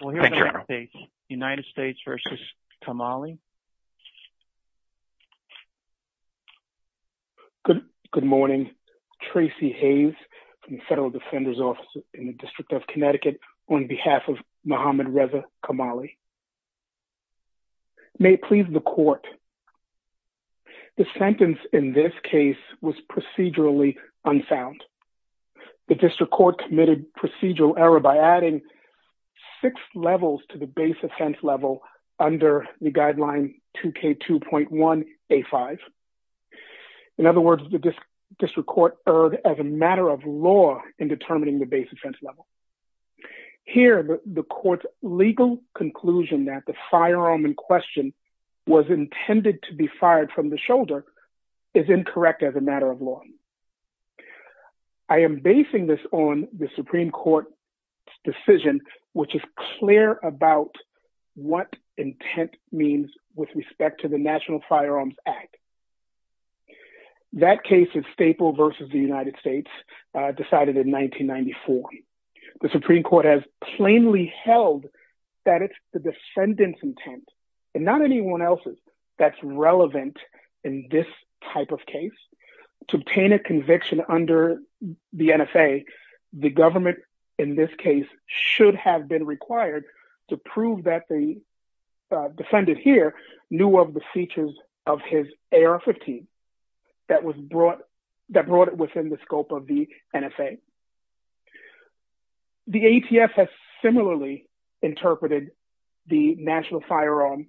Good morning. Tracy Hayes from the Federal Defender's Office in the District of Connecticut on behalf of Mohammed Reza Kamali. May it please the court, the sentence in this case was procedurally unsound. The district court committed procedural error by adding six levels to the base offense level under the guideline 2K2.1A5. In other words, the district court erred as a matter of law in determining the base offense level. Here, the court's legal conclusion that the law. I am basing this on the Supreme Court's decision, which is clear about what intent means with respect to the National Firearms Act. That case is Staple versus the United States, decided in 1994. The Supreme Court has plainly held that it's the defendant's intent, and not anyone else's, that's relevant in this type of case. To obtain a conviction under the NFA, the government in this case should have been required to prove that the defendant here knew of the features of his AR-15 that brought it within the scope of the NFA. The ATF has similarly interpreted the National Firearms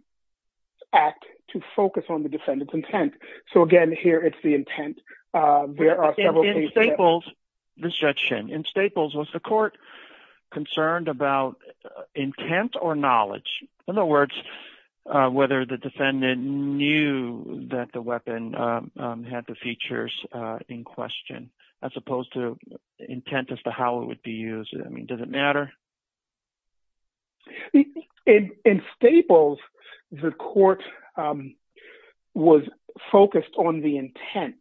Act to focus on the defendant's intent. So again, here, it's the intent. There are several cases- In Staples, Judge Shin, in Staples, was the court concerned about intent or knowledge? In other words, whether the defendant knew that the weapon had the features in question, as opposed to intent as to how it would be used, I mean, does it matter? In Staples, the court was focused on the intent.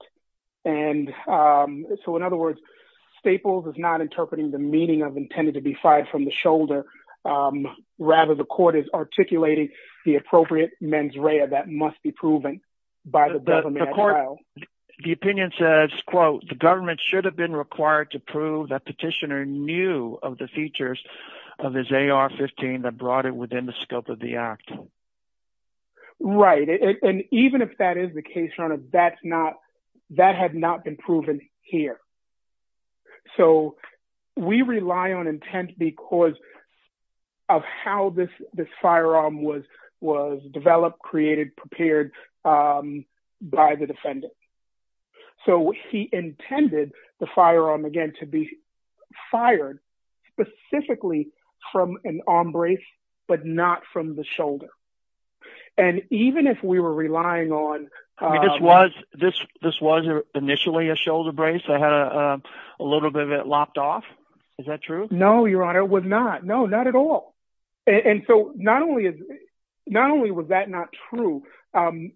So in other words, Staples is not interpreting the meaning of intended to be fired from the shoulder. Rather, the court is articulating the appropriate mens rea that must be proven by the government at trial. The opinion says, quote, the government should have been required to prove that petitioner knew of the features of his AR-15 that brought it within the scope of the act. Right. And even if that is the case, that had not been proven here. So we rely on intent because of how this firearm was developed, created, prepared by the defendant. So he intended the firearm, again, to be fired specifically from an arm brace, but not from the shoulder. And even if we were relying on- I mean, this was initially a shoulder brace that had a little bit of it lopped off. Is that true? No, Your Honor, it was not. No, not at all. And so not only was that not true- When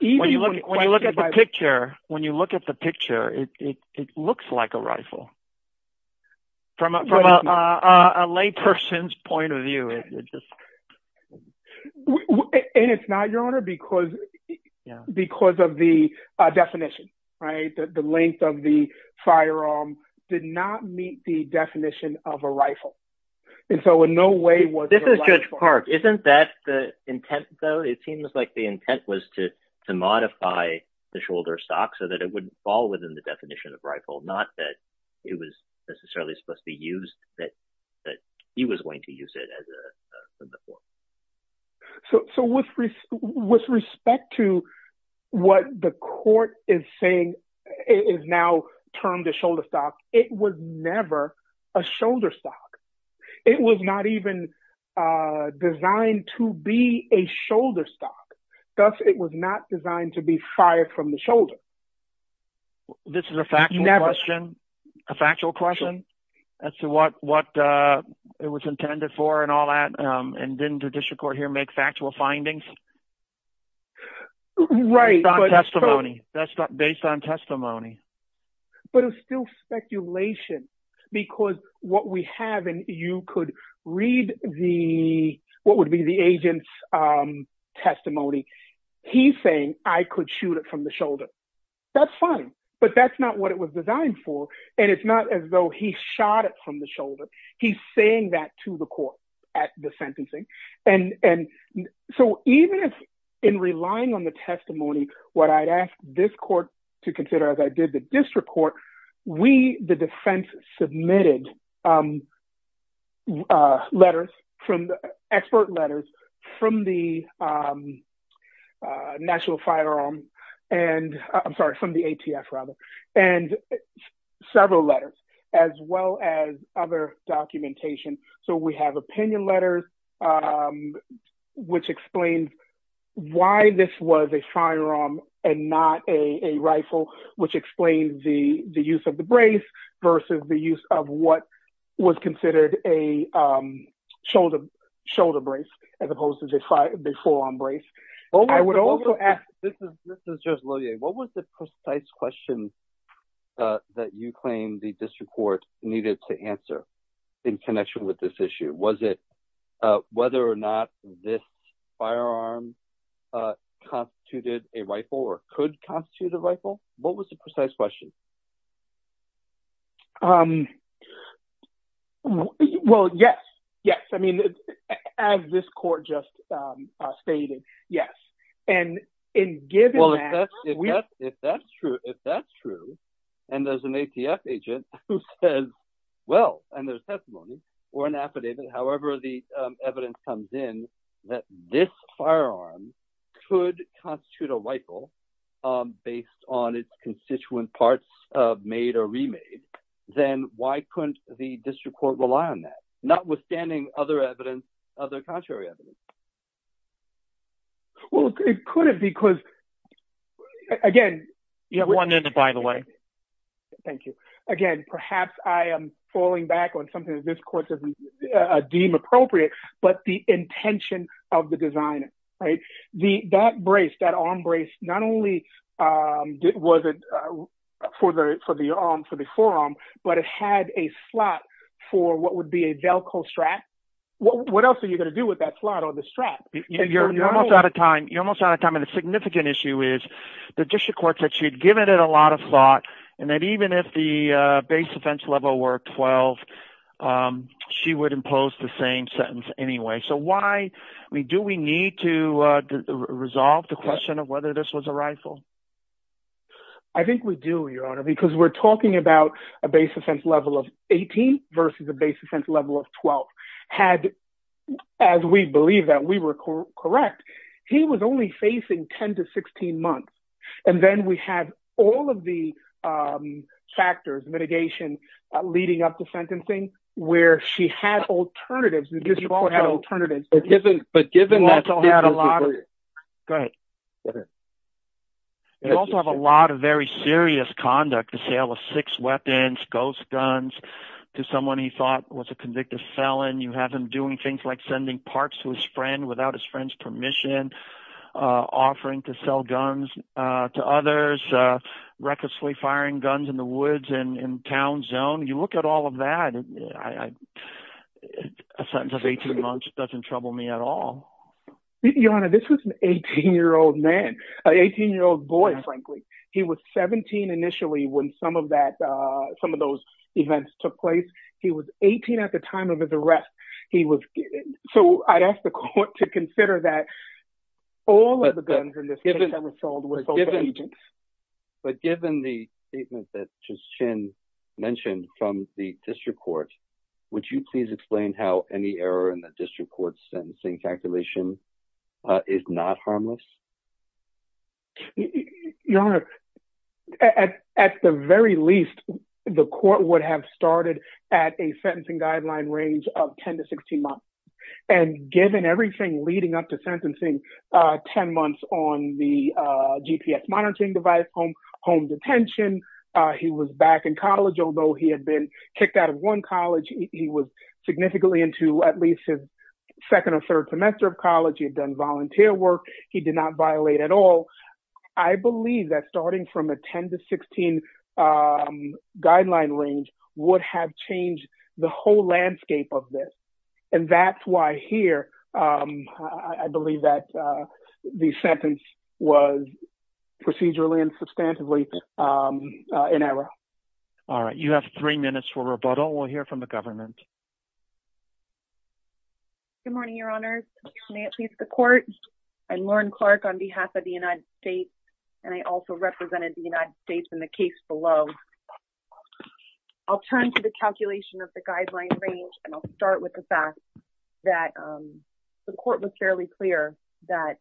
you look at the picture, it looks like a rifle from a lay person's point of view. And it's not, Your Honor, because of the definition, right? The length of the definition of a rifle. And so in no way was- This is Judge Park. Isn't that the intent, though? It seems like the intent was to modify the shoulder stock so that it would fall within the definition of rifle, not that it was necessarily supposed to be used, that he was going to use it as a- So with respect to what the court is saying is now termed a shoulder stock, it was never a shoulder stock. It was not even designed to be a shoulder stock. Thus, it was not designed to be fired from the shoulder. This is a factual question? A factual question as to what it was intended for and all that? And didn't the district court here make factual findings? Right. Based on testimony. But it was still speculation. Because what we have, and you could read what would be the agent's testimony. He's saying, I could shoot it from the shoulder. That's fine. But that's not what it was designed for. And it's not as though he shot it from the shoulder. He's saying that to the court at the sentencing. And so even if in relying on the testimony, what I'd ask this court to consider as I did the district court, we, the defense, submitted letters, expert letters, from the National Firearm. I'm sorry, from the ATF, rather. And several letters, as well as other documentation. So we have opinion letters, which explains why this was a firearm and not a rifle, which explains the use of the brace versus the use of what was considered a shoulder brace, as opposed to the full-on brace. I would also ask, this is just Lillie, what was the precise question that you claim the district court needed to answer in connection with this issue? Was it whether or not this firearm constituted a rifle or could constitute a rifle? What was the precise question? Well, yes. Yes. I mean, as this court just stated, yes. And in giving that- Well, if that's true, and there's an ATF agent who says, well, and there's testimony, or an affidavit, however the evidence comes in, that this firearm could constitute a rifle, based on its constituent parts made or remade, then why couldn't the district court rely on that? Notwithstanding other evidence, other contrary evidence. Well, it could have because, again- You have one minute, by the way. Thank you. Again, perhaps I am falling back on something that this court doesn't deem appropriate, but the intention of the designer, right? That brace, that arm brace, not only was it for the forearm, but it had a slot for what would be a Velcro strap. What else are you going to do with that slot or the strap? You're almost out of time. You're almost out of time. And the significant issue is, the district court said she had given it a lot of thought, and that even if the base offense level were 12, she would impose the same sentence anyway. So why? Do we need to resolve the question of whether this was a rifle? I think we do, Your Honor, because we're talking about a base offense level of 18 versus a base offense level of 12. Had, as we believe that we were correct, he was only facing 10 to 16 months. And then we had all of the factors, mitigation, leading up to sentencing, where she had alternatives. The district court had alternatives. But given that- Also had a lot of- Go ahead. You also have a lot of very serious conduct, the sale of six weapons, ghost guns, to someone he thought was a convicted felon. You have him doing things like sending parts to his friend without his friend's permission, offering to sell guns to others, recklessly firing guns in the woods and town zone. You look at all of that, a sentence of 18 months doesn't trouble me at all. Your Honor, this was an 18-year-old man, an 18-year-old boy, frankly. He was 17 initially when some of those events took place. He was 18 at the time of his arrest. So I'd ask the District Court to consider that all of the guns in this case were sold to agents. But given the statement that just Chen mentioned from the district court, would you please explain how any error in the district court's sentencing calculation is not harmless? Your Honor, at the very least, the court would have started at a sentencing guideline range of 10-16 months. And given everything leading up to sentencing, 10 months on the GPS monitoring device, home detention. He was back in college, although he had been kicked out of one college. He was significantly into at least his second or third semester of college. He had done volunteer work. He did not violate at all. I believe that starting from a 10-16 guideline range would have changed the whole landscape of this. And that's why here, I believe that the sentence was procedurally and substantively in error. All right. You have three minutes for rebuttal. We'll hear from the government. Good morning, Your Honor. May it please the court. I'm Lauren Clark on behalf of the United States, and I also represented the United States in the case below. I'll turn to the calculation of the guideline range, and I'll start with the fact that the court was fairly clear that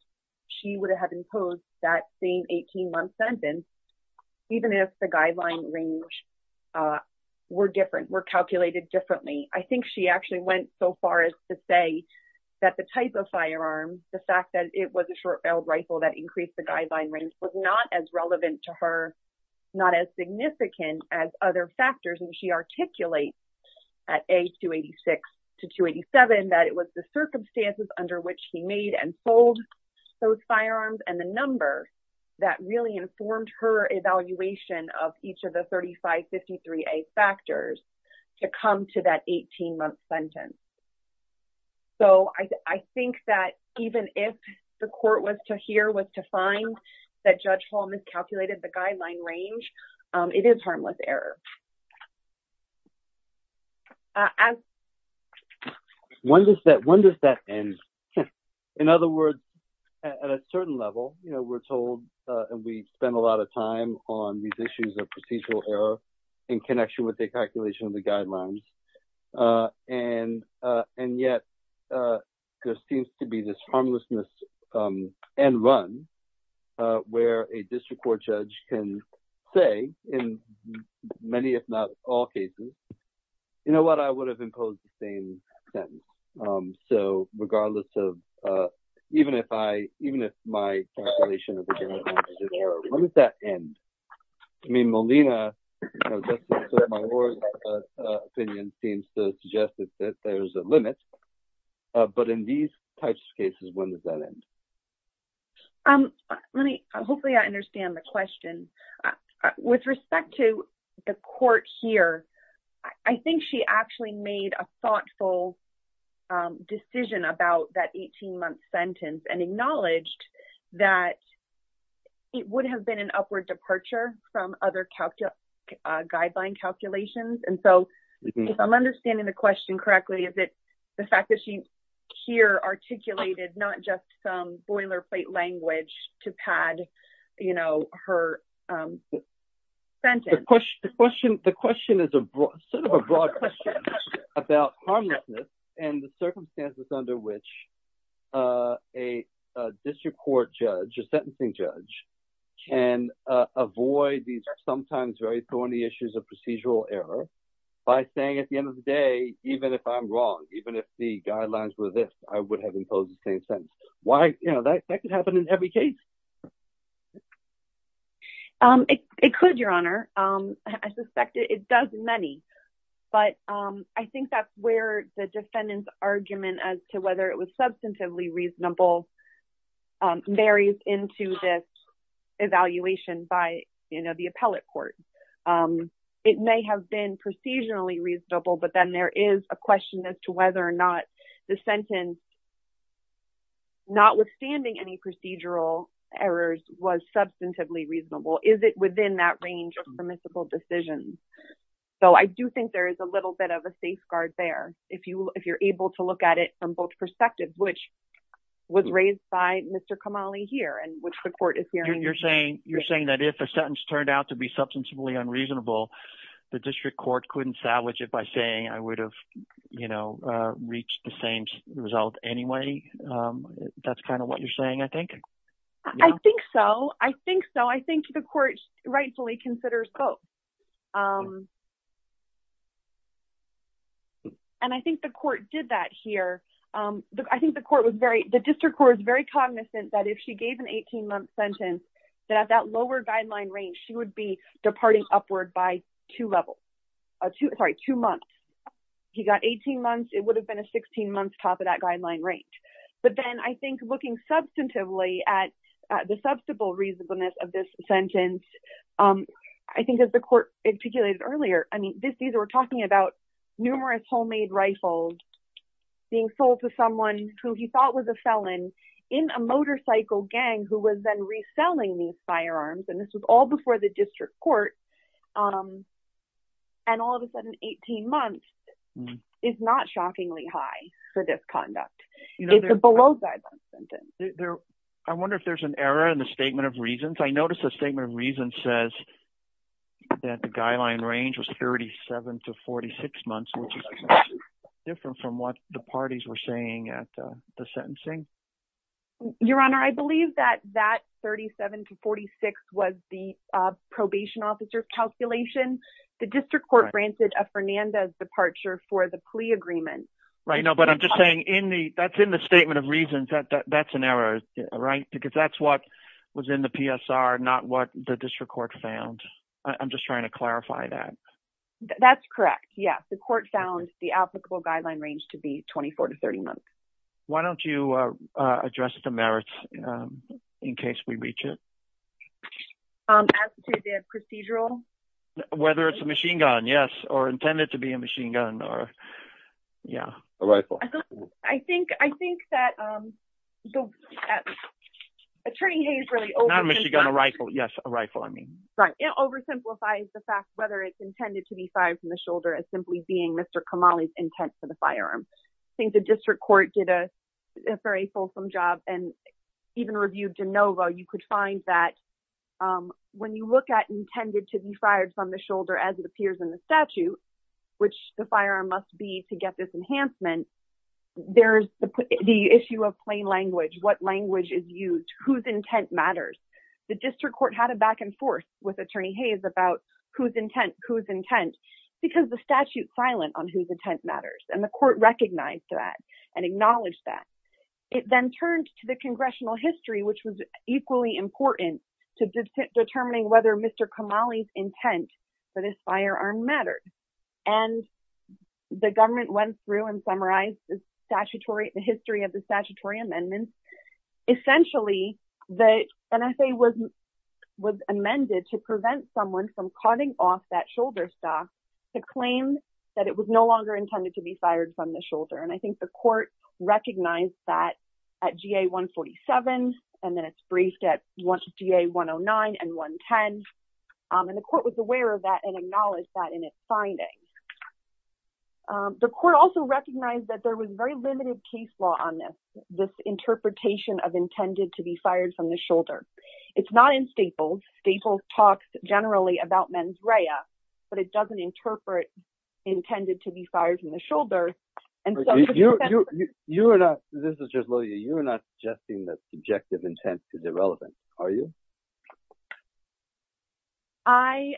she would have imposed that same 18-month sentence, even if the guideline range were different, were calculated differently. I think she actually went so far as to say that the type of firearm, the fact that it was a short-barreled rifle that increased the guideline was not as relevant to her, not as significant as other factors. And she articulates at A-286 to 287 that it was the circumstances under which he made and sold those firearms and the number that really informed her evaluation of each of the 3553A factors to come to that 18-month sentence. So, I think that even if the court was to hear, was to find that Judge Hall miscalculated the guideline range, it is harmless error. When does that end? In other words, at a certain level, we're told, and we spend a lot of time on these issues of procedural error in connection with the calculation of the guidelines, and yet there seems to be this harmlessness end run where a district court judge can say in many, if not all, cases, you know what, I would have imposed the same sentence. So, regardless of, even if I, the calculation of the guidelines is wrong, when does that end? I mean, Molina, opinion seems to suggest that there's a limit, but in these types of cases, when does that end? Um, let me, hopefully I understand the question. With respect to the court here, I think she actually made a thoughtful decision about that 18-month sentence and acknowledged that it would have been an upward departure from other guideline calculations. And so, if I'm understanding the question correctly, is it the fact that she here articulated not just some boilerplate language to pad, you know, her sentence? The question is sort of a broad question about harmlessness and the circumstances under which a district court judge, a sentencing judge, can avoid these sometimes very thorny issues of procedural error by saying at the end of the day, even if I'm wrong, even if the guidelines were this, I would have imposed the same sentence. Why, you know, that could happen in every case. Um, it could, Your Honor. I suspect it does in many, but I think that's where the defendant's substantively reasonable varies into this evaluation by, you know, the appellate court. It may have been procedurally reasonable, but then there is a question as to whether or not the sentence, notwithstanding any procedural errors, was substantively reasonable. Is it within that range of permissible decisions? So, I do think there is a little bit of a safeguard there if you're able to look at it from both perspectives, which was raised by Mr. Kamali here and which the court is hearing. You're saying that if a sentence turned out to be substantively unreasonable, the district court couldn't salvage it by saying I would have, you know, reached the same result anyway. That's kind of what you're saying, I think. I think so. I think so. I think the court rightfully considers both. And I think the court did that here. I think the court was very, the district court was very cognizant that if she gave an 18-month sentence, that at that lower guideline range, she would be departing upward by two levels. Sorry, two months. He got 18 months. It would have been a 16-month top of that guideline range. But then I think looking substantively at the substantive reasonableness of this sentence, I think as the court articulated earlier, I mean, we're talking about numerous homemade rifles being sold to someone who he thought was a felon in a motorcycle gang who was then reselling these firearms. And this was all before the district court. And all of a sudden, 18 months is not shockingly high for this conduct. I wonder if there's an error in the statement of reasons. I noticed the statement of reasons says that the guideline range was 37 to 46 months, which is different from what the parties were saying at the sentencing. Your Honor, I believe that that 37 to 46 was the probation officer's calculation. The district court granted a Fernandez departure for the plea agreement. Right. No, but I'm just saying that's in the statement of reasons. That's an error, right? Because that's what was in the PSR, not what the district court found. I'm just trying to clarify that. That's correct. Yes. The court found the applicable guideline range to be 24 to 30 months. Why don't you address the merits in case we reach it? As to the procedural? Whether it's a machine gun, yes, or intended to be a machine gun or, yeah. A rifle. I think that Attorney Hayes really- Not a machine gun, a rifle. Yes, a rifle, I mean. Right. It oversimplifies the fact whether it's intended to be fired from the shoulder as simply being Mr. Kamali's intent for the firearm. I think the district court did a very fulsome job and even reviewed Genova. You could find that when you look at intended to be fired from the shoulder as appears in the statute, which the firearm must be to get this enhancement, there's the issue of plain language, what language is used, whose intent matters. The district court had a back and forth with Attorney Hayes about whose intent, whose intent, because the statute's silent on whose intent matters. The court recognized that and acknowledged that. It then turned to the congressional history, which was equally important to determining whether Mr. Kamali's intent for this firearm mattered. The government went through and summarized the history of the statutory amendments. Essentially, the NSA was amended to prevent someone from cutting off that shoulder stock to claim that it was no longer intended to be fired from the shoulder. I think the court recognized that at GA-147 and then it's briefed at GA-109 and 110. The court was aware of that and acknowledged that in its findings. The court also recognized that there was very limited case law on this, this interpretation of intended to be fired from the shoulder. It's not in Staples. Staples talks generally about mens rea, but it doesn't interpret intended to be fired from the shoulder. You're not, this is just Lilia, you're not suggesting that subjective intent is irrelevant, are you? I,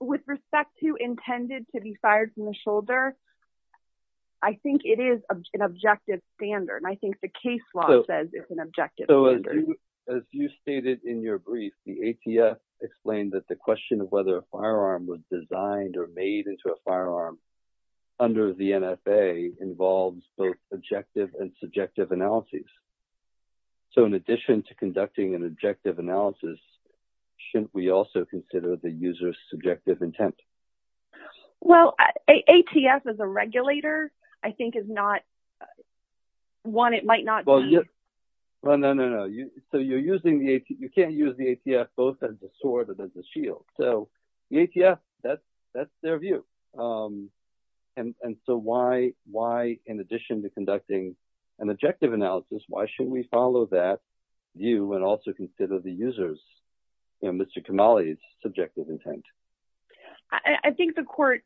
with respect to intended to be fired from the shoulder, I think it is an objective standard. I think the case law says it's an objective standard. As you stated in your brief, the ATF explained that the question of whether a firearm was designed or made into a firearm under the NFA involves both objective and subjective analyses. So, in addition to conducting an objective analysis, shouldn't we also consider the user's subjective intent? Well, ATF as a regulator, I think is not one, it might not be. Well, no, no, no. So, you're using the, you can't use the ATF both as a sword and as a shield. So, the ATF, that's their view. And so, why in addition to conducting an objective analysis, why should we follow that view and also consider the user's, you know, Mr. Kamali's subjective intent? I think the court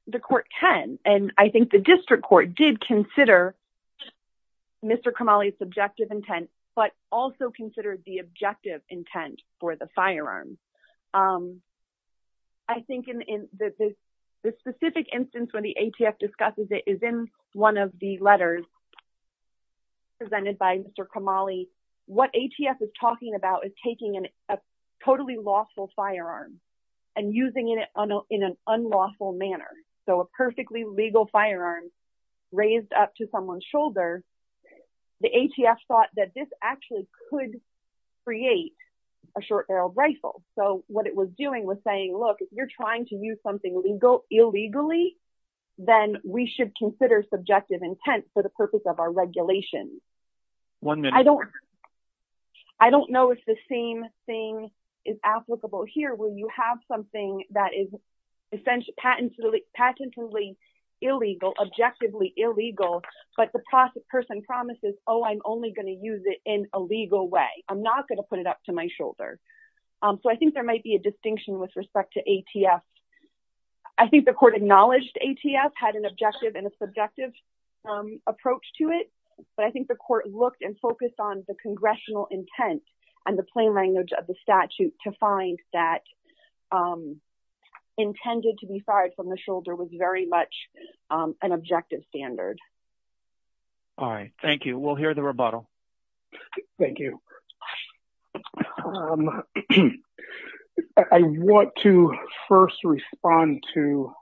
can. And I think the district court did consider Mr. Kamali's subjective intent, but also considered the objective intent for the firearm. I think in the specific instance when the ATF discusses it is in one of the letters presented by Mr. Kamali, what ATF is talking about is taking a totally lawful firearm and using it in an unlawful manner. So, a perfectly legal firearm raised up to someone's shoulder, the ATF thought that this actually could create a short barreled rifle. So, what it was doing was saying, look, if you're trying to use something illegal illegally, then we should consider subjective intent for the purpose of our regulations. I don't know if the same thing is applicable here where you have something that is essentially patently illegal, objectively illegal, but the person promises, oh, I'm only going to use it in a legal way. I'm not going to put it up to my shoulder. So, I think there might be a distinction with respect to ATF. I think the court acknowledged ATF had an objective and a subjective approach to it, but I think the court looked and focused on the congressional intent and the plain language of the statute to find that intended to be fired from the shoulder was very much an objective standard. All right. Thank you. We'll hear the rebuttal. Thank you. I want to first respond to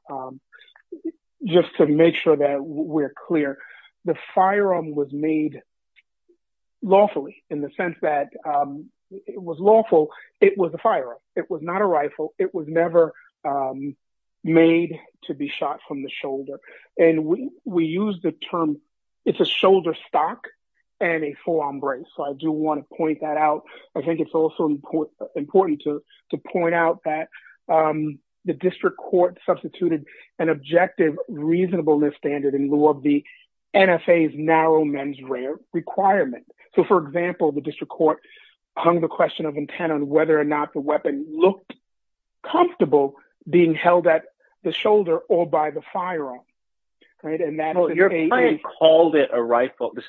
just to make sure that we're clear. The firearm was made lawfully in the sense that it was lawful. It was a firearm. It was not a rifle. It was never made to be shot from the shoulder. And we use the term, it's a shoulder stock and a forearm brace. So, I do want to point that out. I think it's also important to point out that the district court substituted an objective reasonableness standard in lieu of the NFA's narrow mens rare requirement. So, for example, the district court hung the question of intent on whether or not the weapon looked comfortable being held at the shoulder or by the firearm. This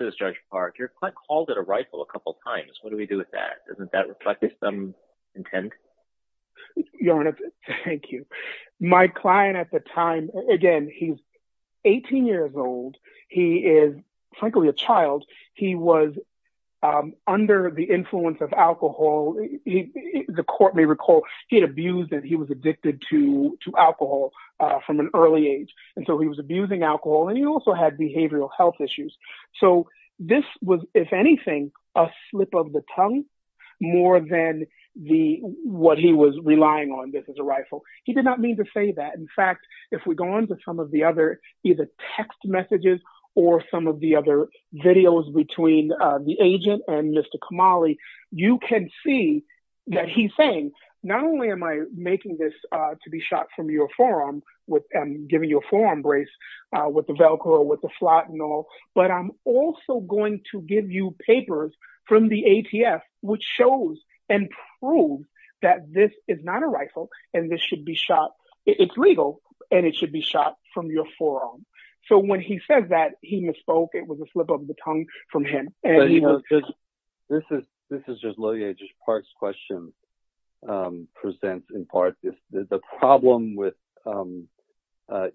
is Judge Park. Your client called it a rifle a couple times. What do we do with that? Doesn't that reflect some intent? Your Honor, thank you. My client at the time, again, he's 18 years old. He is frankly a child. He was under the influence of alcohol. The court may recall he had abused and he was addicted to alcohol from an early age. And so, he was abusing alcohol and he also had behavioral health issues. So, this was, if anything, a slip of the tongue more than what he was relying on, this is a rifle. He did not mean to say that. In fact, if we go on to some of the other either text messages or some of the other videos between the agent and Mr. Kamali, you can see that he's saying, not only am I making this to be shot from your forearm, giving you a forearm brace with the Velcro, with the slot and all, but I'm also going to give you papers from the ATF which shows and proves that this is not a rifle and this should be shot. It's legal and it should be shot from your forearm. So, when he says that, he misspoke. It was a slip of the tongue from him. And, you know, this is just Lilia, just parts questions present in part. The problem with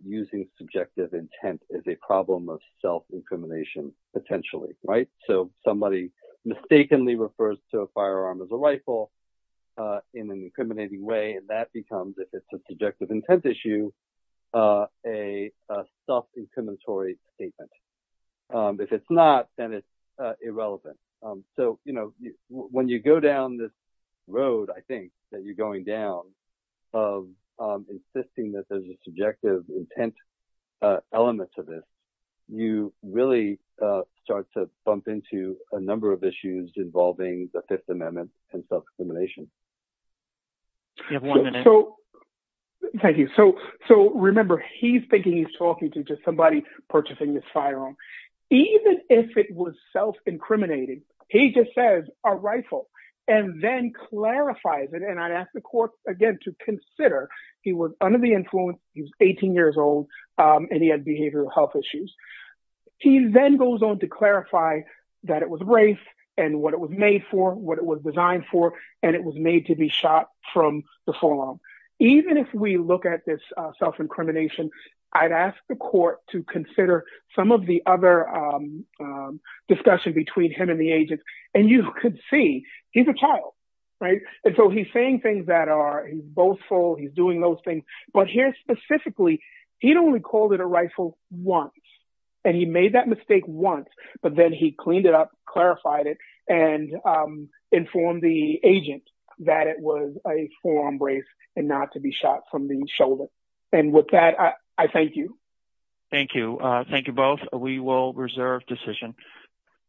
using subjective intent is a problem of self-incrimination potentially, right? So, somebody mistakenly refers to a firearm as a rifle in an incriminating way and that becomes, if it's a subjective intent issue, a self-incriminatory statement. If it's not, then it's irrelevant. So, you know, when you go down this road, I think, that you're going down of insisting that there's a subjective intent element to this, you really start to bump into a number of issues involving the Fifth Amendment and self-incrimination. You have one minute. So, thank you. So, remember, he's thinking he's talking to just somebody purchasing this firearm. Even if it was self-incriminating, he just says a rifle and then clarifies it. And I'd ask the court, again, to consider he was under the influence, he was 18 years old, and he had behavioral health issues. He then goes on to clarify that it was raced and what it was made for, what it was designed for, and it was made to be shot from the forearm. Even if we look at this self-incrimination, I'd ask the court to consider some of the other discussion between him and the agent. And you could see, he's a child, right? And so, he's saying things that are boastful, he's doing those things. But here, specifically, he'd only called it a rifle once. And he made that mistake once, but then he cleaned it up, clarified it, and informed the agent that it was a forearm brace and not to be shot from the shoulder. And with that, I thank you. Thank you. Thank you both. We will reserve decision.